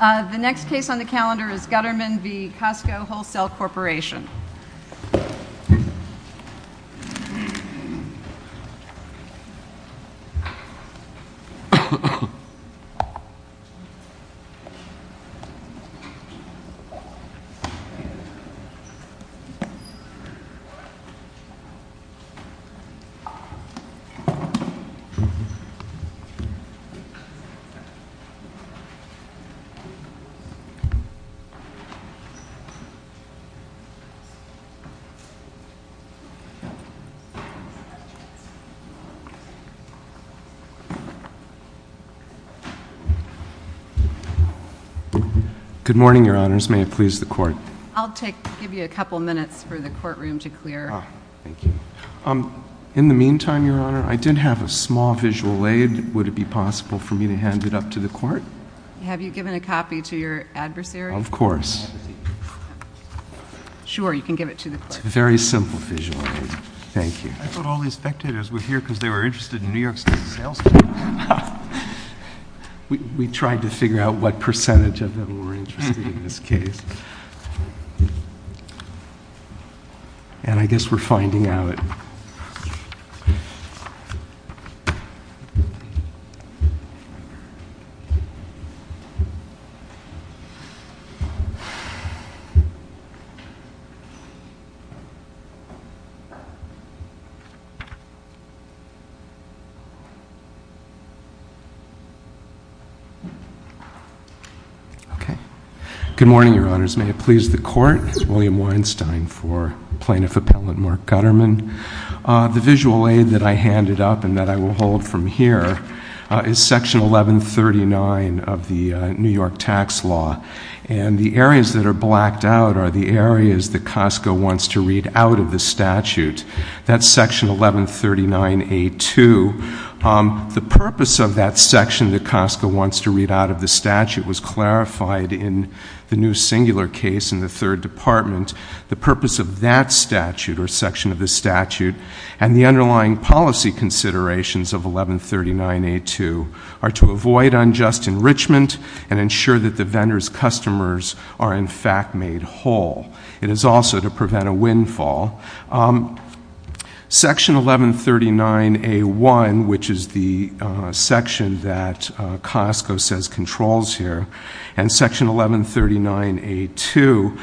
The next case on the calendar is Gutterman v. Costco Wholesale Corporation. This is the first case on the calendar. Good morning, Your Honors. May it please the Court. I'll give you a couple minutes for the courtroom to clear. In the meantime, Your Honor, I did have a small visual aid. Would it be possible for me to hand it up to the Court? Have you given a copy to your adversary? Of course. Sure. You can give it to the Court. It's a very simple visual aid. Thank you. I thought all these spectators were here because they were interested in New York State's sales team. We tried to figure out what percentage of them were interested in this case. I guess we're finding out... Okay. Good morning, Your Honors. May it please the Court. This is William Weinstein for Plaintiff Appellant Mark Gutterman. The visual aid that I handed up and that I will hold from here is Section 1139 of the New York Tax Law. And the areas that are blacked out are the areas that Costco wants to read out of the statute. That's Section 1139A2. The purpose of that section that Costco wants to read out of the statute was clarified in the new singular case in the Third Department. The purpose of that statute, or section of the statute, and the underlying policy considerations of 1139A2 are to avoid unjust enrichment and ensure that the vendor's customers are, in fact, made whole. It is also to prevent a windfall. Section 1139A1, which is the section that Costco says controls here, and Section 1139A2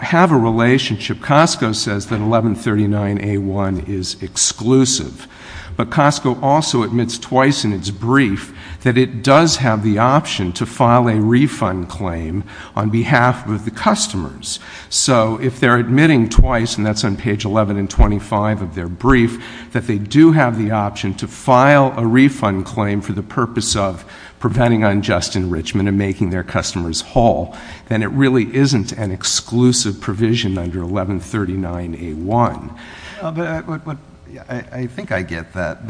have a relationship. Costco says that 1139A1 is exclusive. But Costco also admits twice in its brief that it does have the option to file a refund claim on behalf of the customers. So if they're admitting twice, and that's on page 11 and 25 of their brief, that they do have the option to file a refund claim for the customer's whole, then it really isn't an exclusive provision under 1139A1. I think I get that.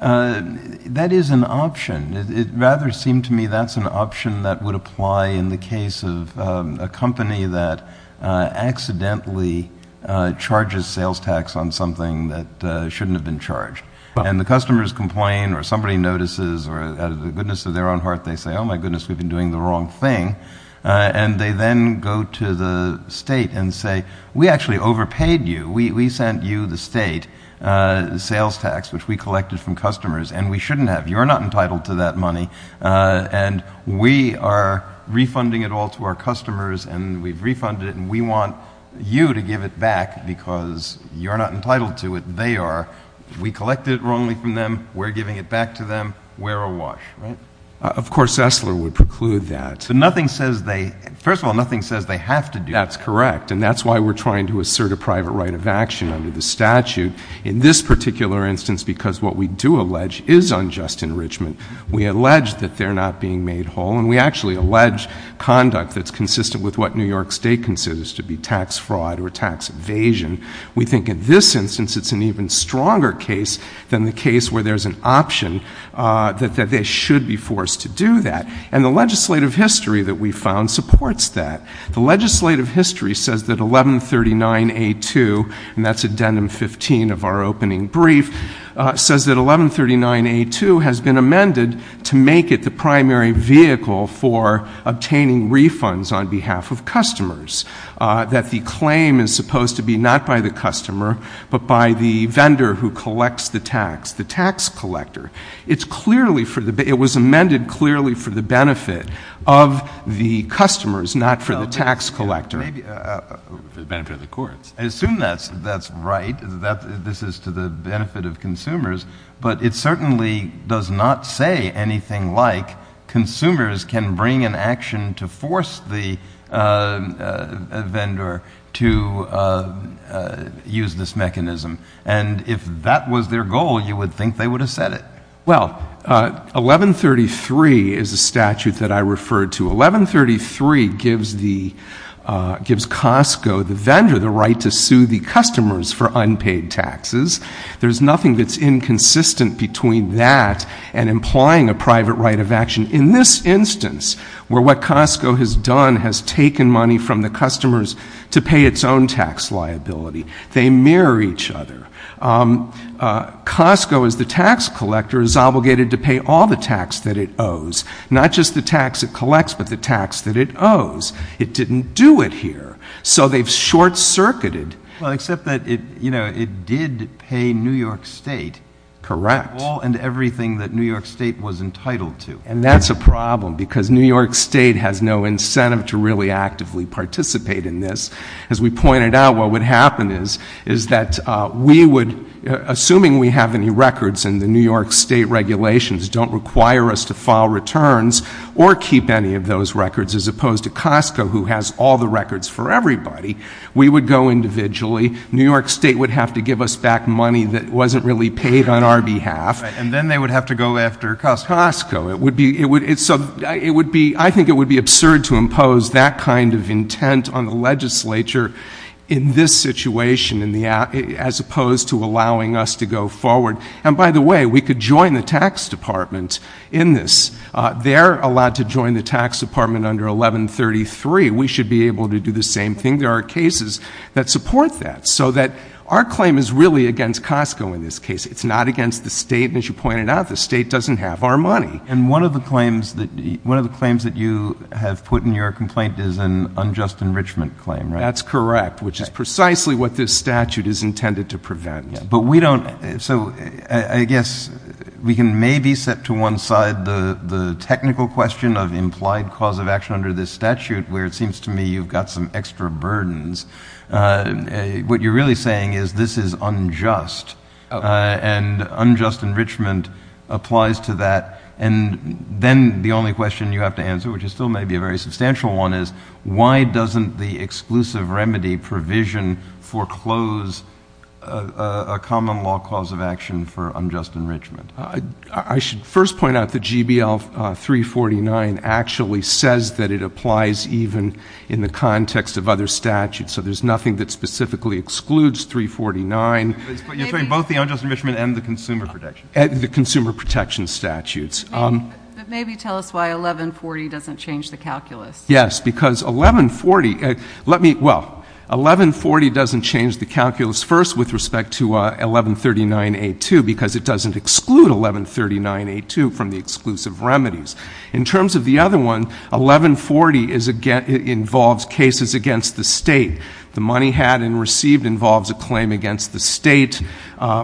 That is an option. It rather seemed to me that's an option that would apply in the case of a company that accidentally charges sales tax on something that shouldn't have been charged. The customers complain, or somebody notices, or out of the goodness of their own heart, they say, oh, my goodness, we've been doing the wrong thing. And they then go to the state and say, we actually overpaid you. We sent you, the state, sales tax, which we collected from customers, and we shouldn't have. You're not entitled to that money. And we are refunding it all to our customers, and we've refunded it, and we want you to give it back, because you're not entitled to it. They are. We collected it wrongly from them. We're giving it back to them. We're a wash, right? Of course, Esler would preclude that. But nothing says they, first of all, nothing says they have to do it. That's correct. And that's why we're trying to assert a private right of action under the statute. In this particular instance, because what we do allege is unjust enrichment, we allege that they're not being made whole, and we actually allege conduct that's consistent with what New York State considers to be tax fraud or tax evasion. We think in this instance, it's an even stronger case than the case where there's an option that they should be forced to do that. And the legislative history that we found supports that. The legislative history says that 1139A2, and that's addendum 15 of our opening brief, says that 1139A2 has been amended to make it the primary vehicle for obtaining refunds on behalf of customers, that the claim is supposed to be not by the customer, but by the vendor who collects the tax. The tax collector. It's clearly for the—it was amended clearly for the benefit of the customers, not for the tax collector. Maybe for the benefit of the courts. I assume that's right, that this is to the benefit of consumers, but it certainly does not say anything like consumers can bring an action to force the vendor to use this mechanism. And if that was their goal, you would think they would have said it. Well, 1133 is a statute that I referred to. 1133 gives the—gives Costco, the vendor, the right to sue the customers for unpaid taxes. There's nothing that's inconsistent between that and implying a private right of action in this instance, where what Costco has done has taken money from the customers to pay its own tax liability. They mirror each other. Costco, as the tax collector, is obligated to pay all the tax that it owes, not just the tax it collects, but the tax that it owes. It didn't do it here. So they've short-circuited. Well, except that it, you know, it did pay New York State. Correct. All and everything that New York State was entitled to. And that's a problem, because New York State has no incentive to really actively participate in this. As we pointed out, what would happen is, is that we would—assuming we have any records and the New York State regulations don't require us to file returns or keep any of those records, as opposed to Costco, who has all the records for everybody, we would go individually. New York State would have to give us back money that wasn't really paid on our behalf. And then they would have to go after Costco. Costco. It would be—it would—so it would be—I think it would be absurd to in this situation, in the—as opposed to allowing us to go forward. And by the way, we could join the tax department in this. They're allowed to join the tax department under 1133. We should be able to do the same thing. There are cases that support that. So that our claim is really against Costco in this case. It's not against the state. And as you pointed out, the state doesn't have our money. And one of the claims that—one of the claims that you have put in your That's correct, which is precisely what this statute is intended to prevent. But we don't—so I guess we can maybe set to one side the technical question of implied cause of action under this statute, where it seems to me you've got some extra burdens. What you're really saying is this is unjust. And unjust enrichment applies to that. And then the only question you have to answer, which is still maybe a very exclusive remedy, provision, foreclose, a common law cause of action for unjust enrichment. I should first point out that GBL 349 actually says that it applies even in the context of other statutes. So there's nothing that specifically excludes 349. You're saying both the unjust enrichment and the consumer protection? The consumer protection statutes. But maybe tell us why 1140 doesn't change the calculus. Yes, because 1140—well, 1140 doesn't change the calculus first with respect to 1139A2, because it doesn't exclude 1139A2 from the exclusive remedies. In terms of the other one, 1140 involves cases against the state. The money had and received involves a claim against the state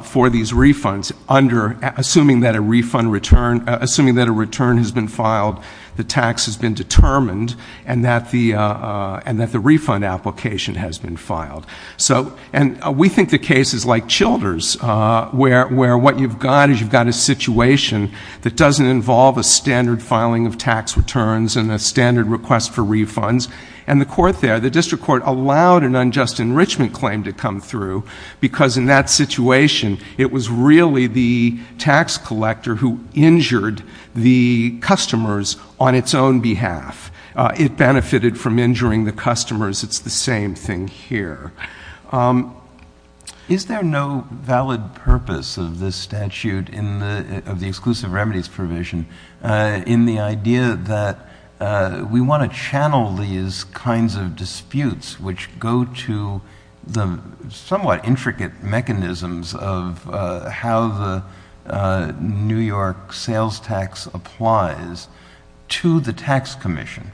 for these refunds under—assuming that a return has been filed, the tax has been filed, and that the refund application has been filed. So—and we think the case is like Childers, where what you've got is you've got a situation that doesn't involve a standard filing of tax returns and a standard request for refunds. And the court there, the district court, allowed an unjust enrichment claim to come through, because in that situation, it was really the tax collector who injured the customers on its own behalf. It benefited from injuring the customers. It's the same thing here. Is there no valid purpose of this statute in the—of the exclusive remedies provision in the idea that we want to channel these kinds of disputes which go to the somewhat intricate mechanisms of how the New York sales tax applies to the tax commission,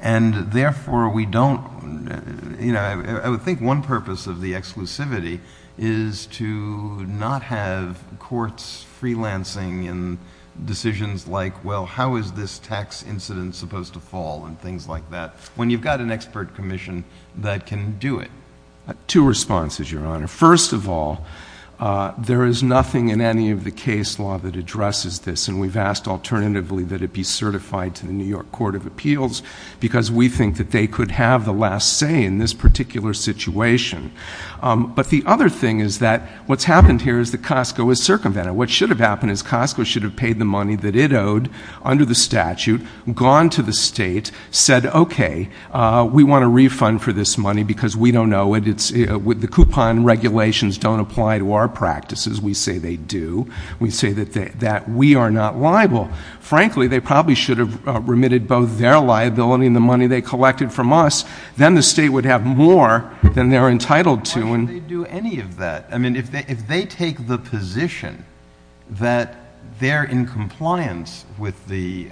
and therefore, we don't—you know, I would think one purpose of the exclusivity is to not have courts freelancing in decisions like, well, how is this tax incident supposed to fall and things like that, when you've got an expert commission that can do it? Two responses, Your Honor. First of all, there is nothing in any of the case law that addresses this, and we've asked alternatively that it be certified to the New York Court of Appeals, because we think that they could have the last say in this particular situation. But the other thing is that what's happened here is that Costco is circumvented. What should have happened is Costco should have paid the money that it owed under the statute, gone to the state, said, okay, we want a refund for this money, because we don't know, and it's—the coupon regulations don't apply to our practices. We say they do. We say that we are not liable. Frankly, they probably should have remitted both their liability and the money they collected from us. Then the state would have more than they're entitled to. Why should they do any of that? I mean, if they take the position that they're in compliance with the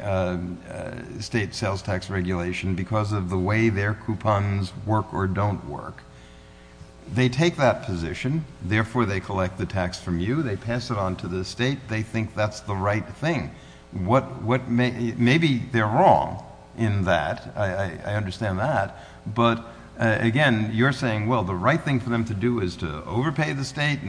state sales tax regulation because of the way their coupons work or don't work, they take that position. Therefore, they collect the tax from you. They pass it on to the state. They think that's the right thing. Maybe they're wrong in that. I understand that. But again, you're saying, well, the right thing for them to do is to overpay the state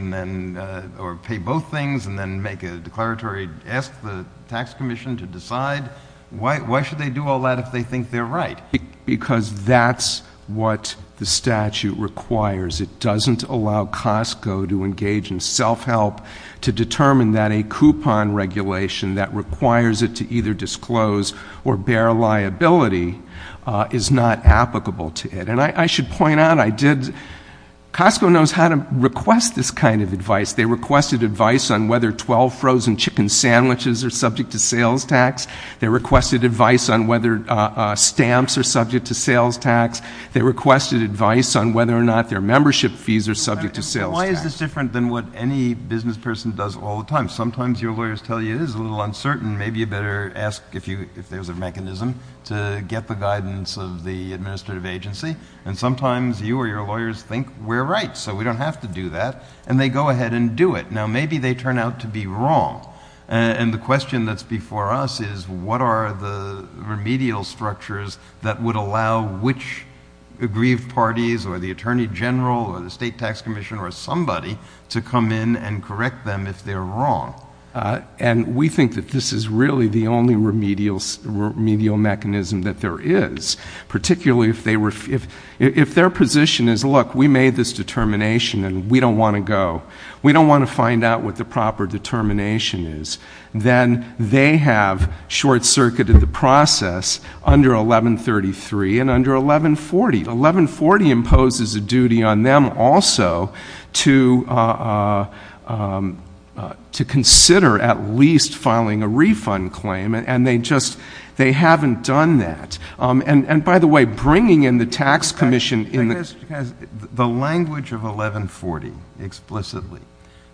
or pay both things and then make a declaratory—ask the tax commission to decide. Why should they do all that if they think they're right? Because that's what the statute requires. It doesn't allow Costco to engage in self-help to determine that a coupon regulation that requires it to either disclose or bear liability is not applicable to it. And I should point out, I did—Costco knows how to request this kind of advice. They requested advice on whether 12 frozen chicken sandwiches are subject to sales tax. They requested advice on whether stamps are subject to sales tax. They requested advice on whether or not their membership fees are subject to sales tax. Why is this different than what any business person does all the time? Sometimes your lawyers tell you it is a little uncertain. Maybe you better ask if there's a mechanism to get the guidance of the administrative agency. And sometimes you or your lawyers think we're right, so we don't have to do that. And they go ahead and do it. Now, maybe they turn out to be wrong. And the question that's before us is, what are the remedial structures that would allow which aggrieved parties or the attorney general or the state tax commission or somebody to come in and correct them if they're wrong? And we think that this is really the only remedial mechanism that there is, particularly if their position is, look, we made this determination and we don't want to go. We don't want to find out what the proper determination is. Then they have short-circuited the process under 1133 and under 1140. 1140 imposes a duty on them also to consider at least filing a refund claim. And they just haven't done that. And by the way, bringing in the tax commission in the The language of 1140 explicitly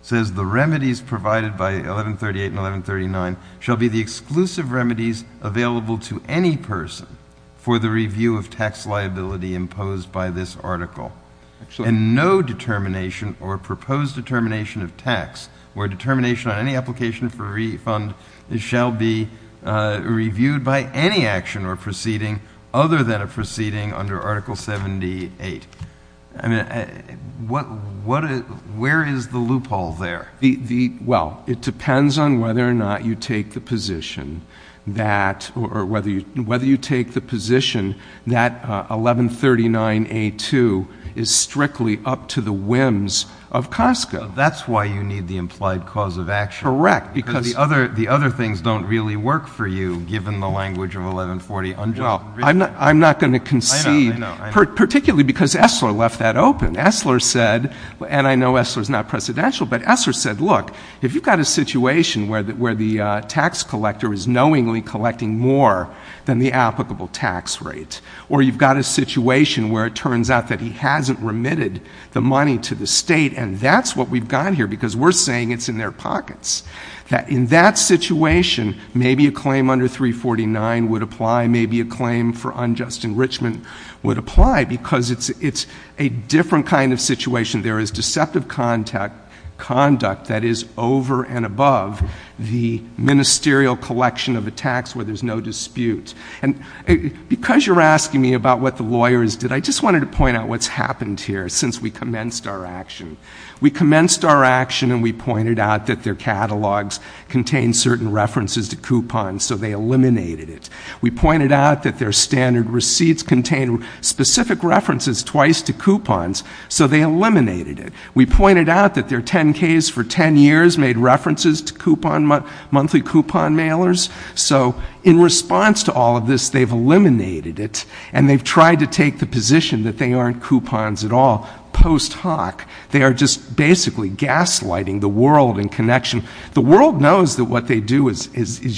says the remedies provided by 1138 and 1139 shall be the exclusive remedies available to any person for the review of tax liability imposed by this article. And no determination or proposed determination of tax or determination on any application for refund shall be reviewed by any action or proceeding other than a proceeding under Article 78. Where is the loophole there? Well, it depends on whether or not you take the position that 1139A2 is strictly up to the whims of COSCA. That's why you need the implied cause of action. Correct. Because the other things don't really work for you, given the language of 1140. Well, I'm not going to concede, particularly because Esler left that open. Esler said, and I know Esler's not precedential, but Esler said, look, if you've got a situation where the tax collector is knowingly collecting more than the applicable tax rate, or you've got a situation where it turns out that he hasn't remitted the money to the state, and that's what we've got here, because we're saying it's in their pockets, that in that situation maybe a claim under 349 would apply, maybe a claim for unjust enrichment would apply, because it's a different kind of situation. There is deceptive conduct that is over and above the ministerial collection of a tax where there's no dispute. And because you're asking me about what the lawyers did, I just wanted to point out what's happened here since we commenced our action. We commenced our action, and we pointed out that their catalogs contain certain references to coupons, so they eliminated it. We pointed out that their standard receipts contain specific references twice to coupons, so they eliminated it. We pointed out that their 10Ks for 10 years made references to monthly coupon mailers, so in response to all of this, they've eliminated it, and they've tried to take the position that they aren't coupons at all post hoc. They are just basically gaslighting the world in connection. The world knows that what they do is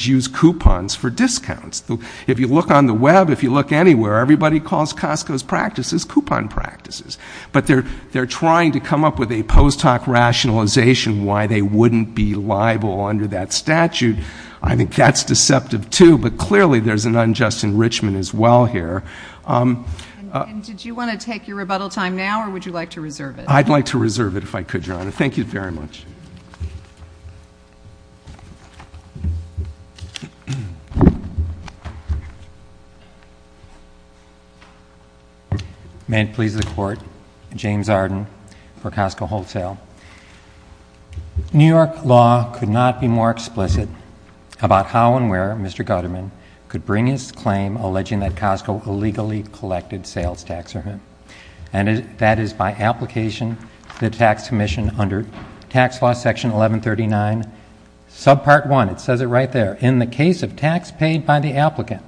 use coupons for discounts. If you look on the web, if you look anywhere, everybody calls Costco's practices coupon practices. But they're trying to come up with a post hoc rationalization why they wouldn't be liable under that statute. I think that's deceptive too, but clearly there's an unjust enrichment as well here. And did you want to take your rebuttal time now, or would you like to reserve it? I'd like to reserve it if I could, Your Honor. Thank you very much. May it please the court, James Arden for Costco Wholesale. New York law could not be more explicit about how and where Mr. Gutterman could bring his claim alleging that Costco illegally collected sales tax revenue. And that is by application to the tax commission under tax law section 1139, sub part one. It says it right there. In the case of tax paid by the applicant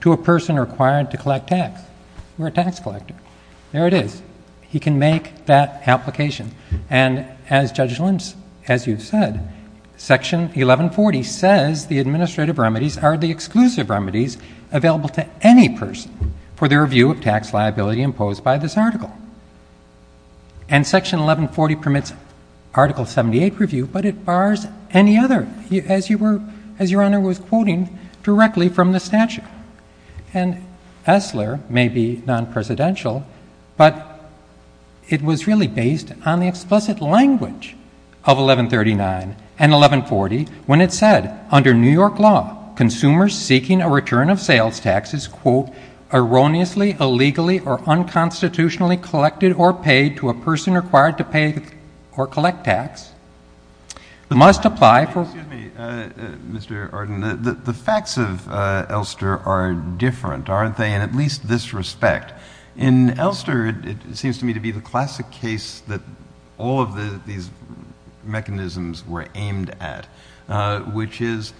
to a person required to collect tax, you're a tax collector. There it is. He can make that application. And as Judge Lynch, as you've said, section 1140 says the administrative remedies are the exclusive remedies available to any person for the review of tax liability imposed by this article. And section 1140 permits article 78 review, but it bars any other. As Your Honor was quoting directly from the statute. And Esler may be non-presidential, but it was really based on the explicit language of 1139 and 1140 when it said, under New York law, consumers seeking a return of sales taxes, quote, erroneously, illegally, or unconstitutionally collected or paid to a person required to pay or must apply for- Excuse me, Mr. Arden. The facts of Elster are different, aren't they, in at least this respect. In Elster, it seems to me to be the classic case that all of these mechanisms were aimed at, which is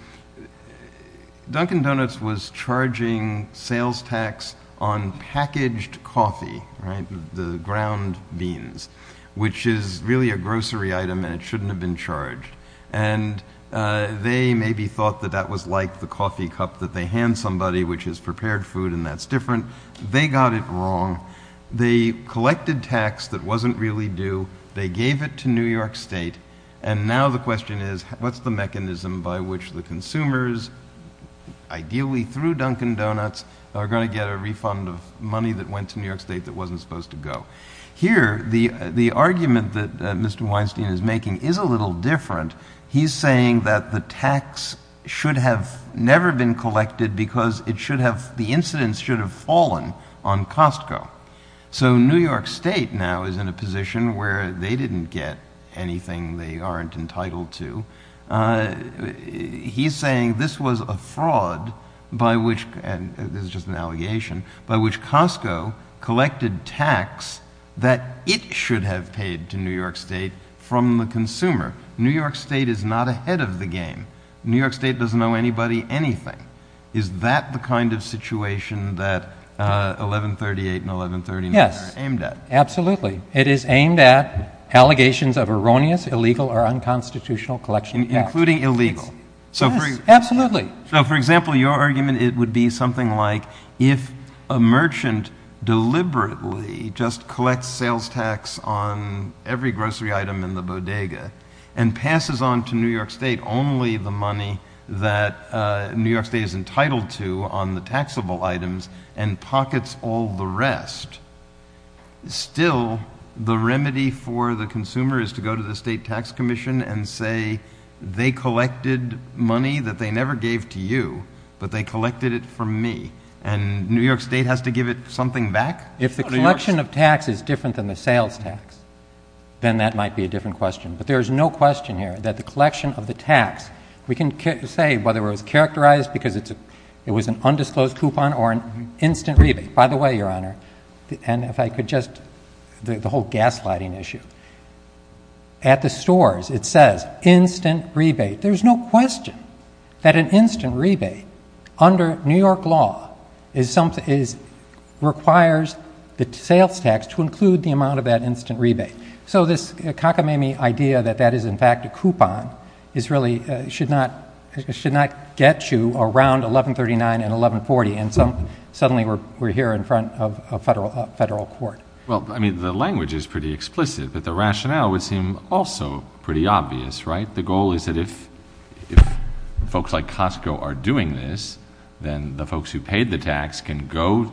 Dunkin' Donuts was charging sales tax on packaged coffee, right, the ground beans. Which is really a grocery item, and it shouldn't have been charged. And they maybe thought that that was like the coffee cup that they hand somebody, which is prepared food, and that's different. They got it wrong. They collected tax that wasn't really due. They gave it to New York State. And now the question is, what's the mechanism by which the consumers, ideally through Dunkin' Donuts, are going to get a refund of money that went to New York State that wasn't supposed to go? Here, the argument that Mr. Weinstein is making is a little different. He's saying that the tax should have never been collected because it should have, the incidence should have fallen on Costco. So New York State now is in a position where they didn't get anything they aren't entitled to. He's saying this was a fraud by which, and this is just an allegation, by which Costco collected tax that it should have paid to New York State from the consumer. New York State is not ahead of the game. New York State doesn't owe anybody anything. Is that the kind of situation that 1138 and 1139 are aimed at? Yes, absolutely. It is aimed at allegations of erroneous, illegal, or unconstitutional collection. Including illegal. So for- Yes, absolutely. So for example, your argument, it would be something like if a merchant deliberately just collects sales tax on every grocery item in the bodega. And passes on to New York State only the money that New York State is entitled to on the taxable items, and pockets all the rest. Still, the remedy for the consumer is to go to the state tax commission and say, they collected money that they never gave to you, but they collected it from me. And New York State has to give it something back? If the collection of tax is different than the sales tax, then that might be a different question. But there's no question here that the collection of the tax, we can say whether it was characterized because it was an undisclosed coupon or an instant rebate. By the way, your honor, and if I could just, the whole gas lighting issue. At the stores, it says instant rebate. There's no question that an instant rebate, under New York law, is something, is, requires the sales tax to include the amount of that instant rebate. So this cockamamie idea that that is in fact a coupon, is really, should not, should not get you around 1139 and 1140. And some, suddenly we're, we're here in front of a federal, a federal court. Well, I mean, the language is pretty explicit, but the rationale would seem also pretty obvious, right? The goal is that if, if folks like Costco are doing this, then the folks who paid the tax can go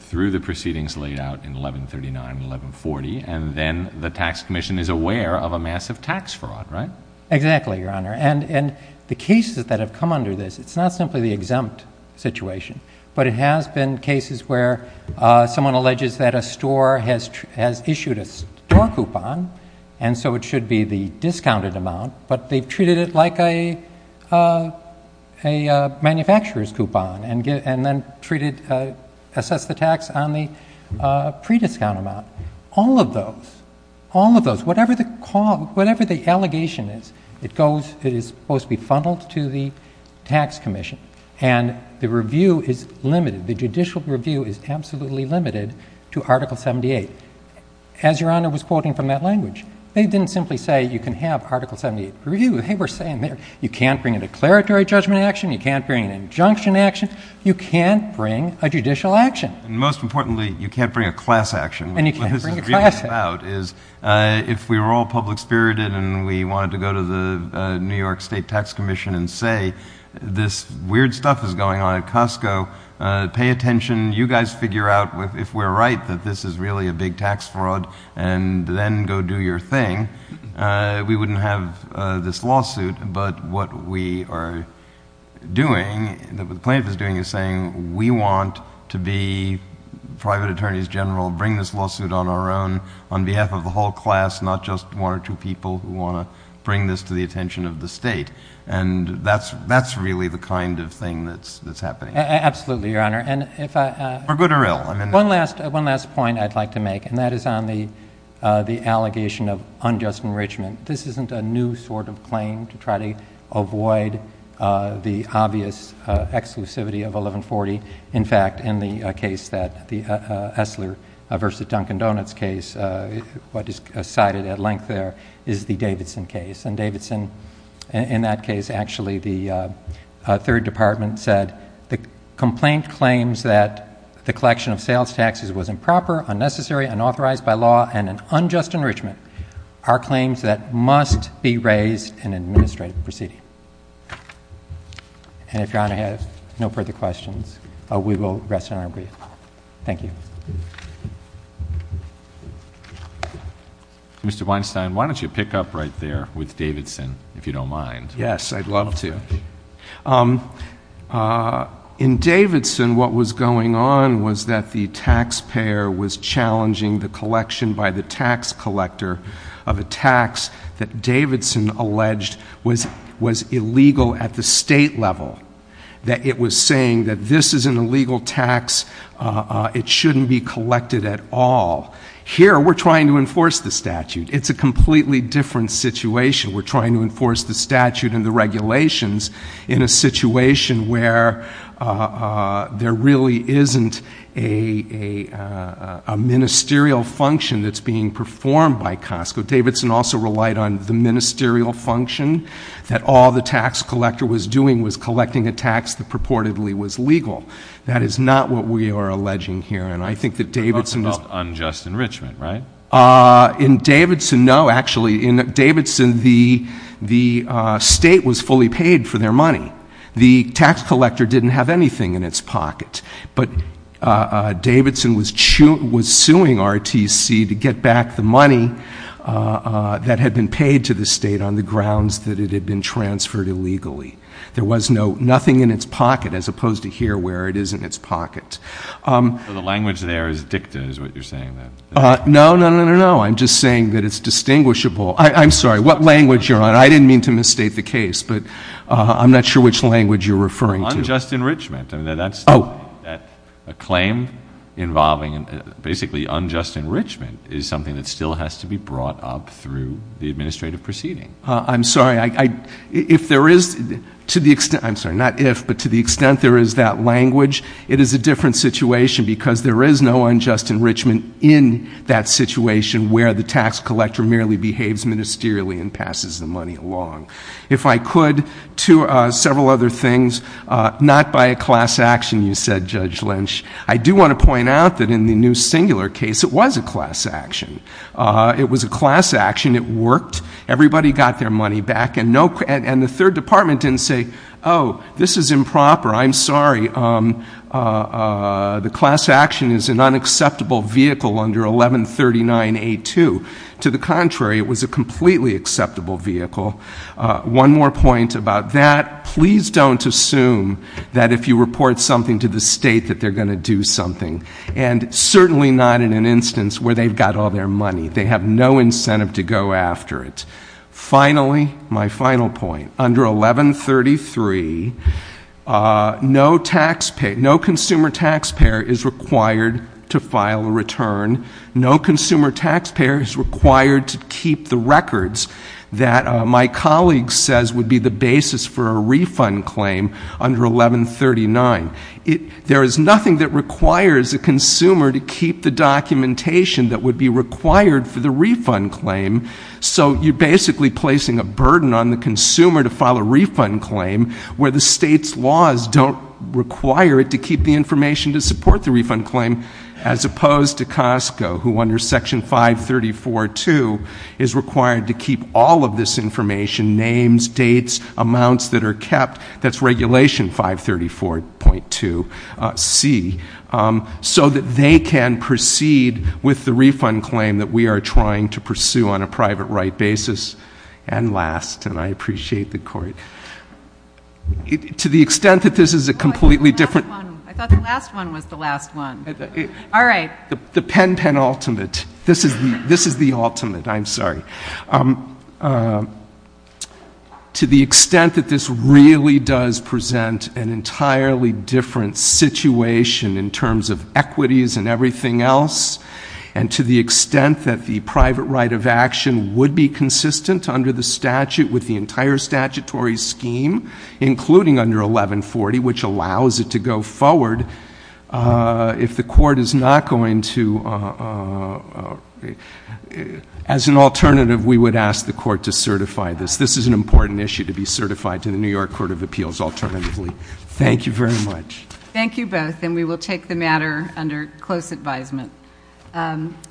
through the proceedings laid out in 1139, 1140, and then the tax commission is aware of a massive tax fraud, right? Exactly, your honor. And, and the cases that have come under this, it's not simply the exempt situation. But it has been cases where someone alleges that a store has, has issued a store coupon. And so it should be the discounted amount. But they've treated it like a, a manufacturer's coupon and get, and then treated assess the tax on the pre-discount amount. All of those, all of those, whatever the call, whatever the allegation is, it goes, it is supposed to be funneled to the tax commission. And the review is limited. The judicial review is absolutely limited to Article 78. As your honor was quoting from that language. They didn't simply say you can have Article 78 review. They were saying, you can't bring a declaratory judgment action. You can't bring an injunction action. You can't bring a judicial action. And most importantly, you can't bring a class action. And you can't bring a class action. What this is really about is if we were all public spirited and we wanted to go to the New York State Tax Commission and say, this weird stuff is going on at Costco, pay attention. You guys figure out if we're right that this is really a big tax fraud and then go do your thing, we wouldn't have this lawsuit. But what we are doing, what the plaintiff is doing is saying we want to be private attorneys general, bring this lawsuit on our own, on behalf of the whole class, not just one or two people who want to bring this to the attention of the state. And that's really the kind of thing that's happening. Absolutely, Your Honor. And if I- For good or ill. One last point I'd like to make, and that is on the allegation of unjust enrichment. This isn't a new sort of claim to try to avoid the obvious exclusivity of 1140. In fact, in the case that, the Esler versus Dunkin Donuts case, what is cited at length there is the Davidson case. And Davidson, in that case, actually, the third department said, the complaint claims that the collection of sales taxes was improper, unnecessary, unauthorized by law, and an unjust enrichment are claims that must be raised in an administrative proceeding. And if Your Honor has no further questions, we will rest in our brief. Thank you. Mr. Weinstein, why don't you pick up right there with Davidson, if you don't mind. Yes, I'd love to. In Davidson, what was going on was that the taxpayer was challenging the collection by the tax collector of a tax that Davidson alleged was illegal at the state level. That it was saying that this is an illegal tax, it shouldn't be collected at all. Here, we're trying to enforce the statute. It's a completely different situation. We're trying to enforce the statute and the regulations in a situation where there really isn't a ministerial function that's being performed by Costco. Davidson also relied on the ministerial function that all the tax collector was doing was collecting a tax that purportedly was legal. That is not what we are alleging here. And I think that Davidson- It's about unjust enrichment, right? In Davidson, no. Actually, in Davidson, the state was fully paid for their money. The tax collector didn't have anything in its pocket. But Davidson was suing RTC to get back the money that had been paid to the state on the grounds that it had been transferred illegally. There was nothing in its pocket, as opposed to here, where it is in its pocket. So the language there is dicta, is what you're saying then? No, no, no, no, no. I'm just saying that it's distinguishable. I'm sorry, what language you're on? I didn't mean to misstate the case, but I'm not sure which language you're referring to. Unjust enrichment, I mean, that's a claim involving, basically unjust enrichment is something that still has to be brought up through the administrative proceeding. I'm sorry, if there is, to the extent, I'm sorry, not if, but to the extent there is that language, it is a different situation because there is no unjust enrichment in that situation where the tax collector merely behaves ministerially and passes the money along. If I could, to several other things, not by a class action, you said, Judge Lynch. I do want to point out that in the new singular case, it was a class action. It was a class action, it worked. Everybody got their money back, and the third department didn't say, this is improper. I'm sorry, the class action is an unacceptable vehicle under 1139A2. To the contrary, it was a completely acceptable vehicle. One more point about that, please don't assume that if you report something to the state that they're going to do something. And certainly not in an instance where they've got all their money. They have no incentive to go after it. Finally, my final point, under 1133 no consumer taxpayer is required to file a return. No consumer taxpayer is required to keep the records that my colleague says would be the basis for a refund claim under 1139. There is nothing that requires a consumer to keep the documentation that would be required for the refund claim. So you're basically placing a burden on the consumer to file a refund claim, where the state's laws don't require it to keep the information to support the refund claim. As opposed to Costco, who under section 534.2 is required to keep all of this information, names, dates, amounts that are kept, that's regulation 534.2c. So that they can proceed with the refund claim that we are trying to pursue on a private right basis. And last, and I appreciate the court. To the extent that this is a completely different- I thought the last one was the last one. All right. The pen pen ultimate. This is the ultimate, I'm sorry. To the extent that this really does present an entirely different situation in terms of equities and everything else. And to the extent that the private right of action would be consistent under the statute with the entire statutory scheme. Including under 1140, which allows it to go forward if the court is not going to. As an alternative, we would ask the court to certify this. This is an important issue to be certified to the New York Court of Appeals alternatively. Thank you very much. Thank you both, and we will take the matter under close advisement.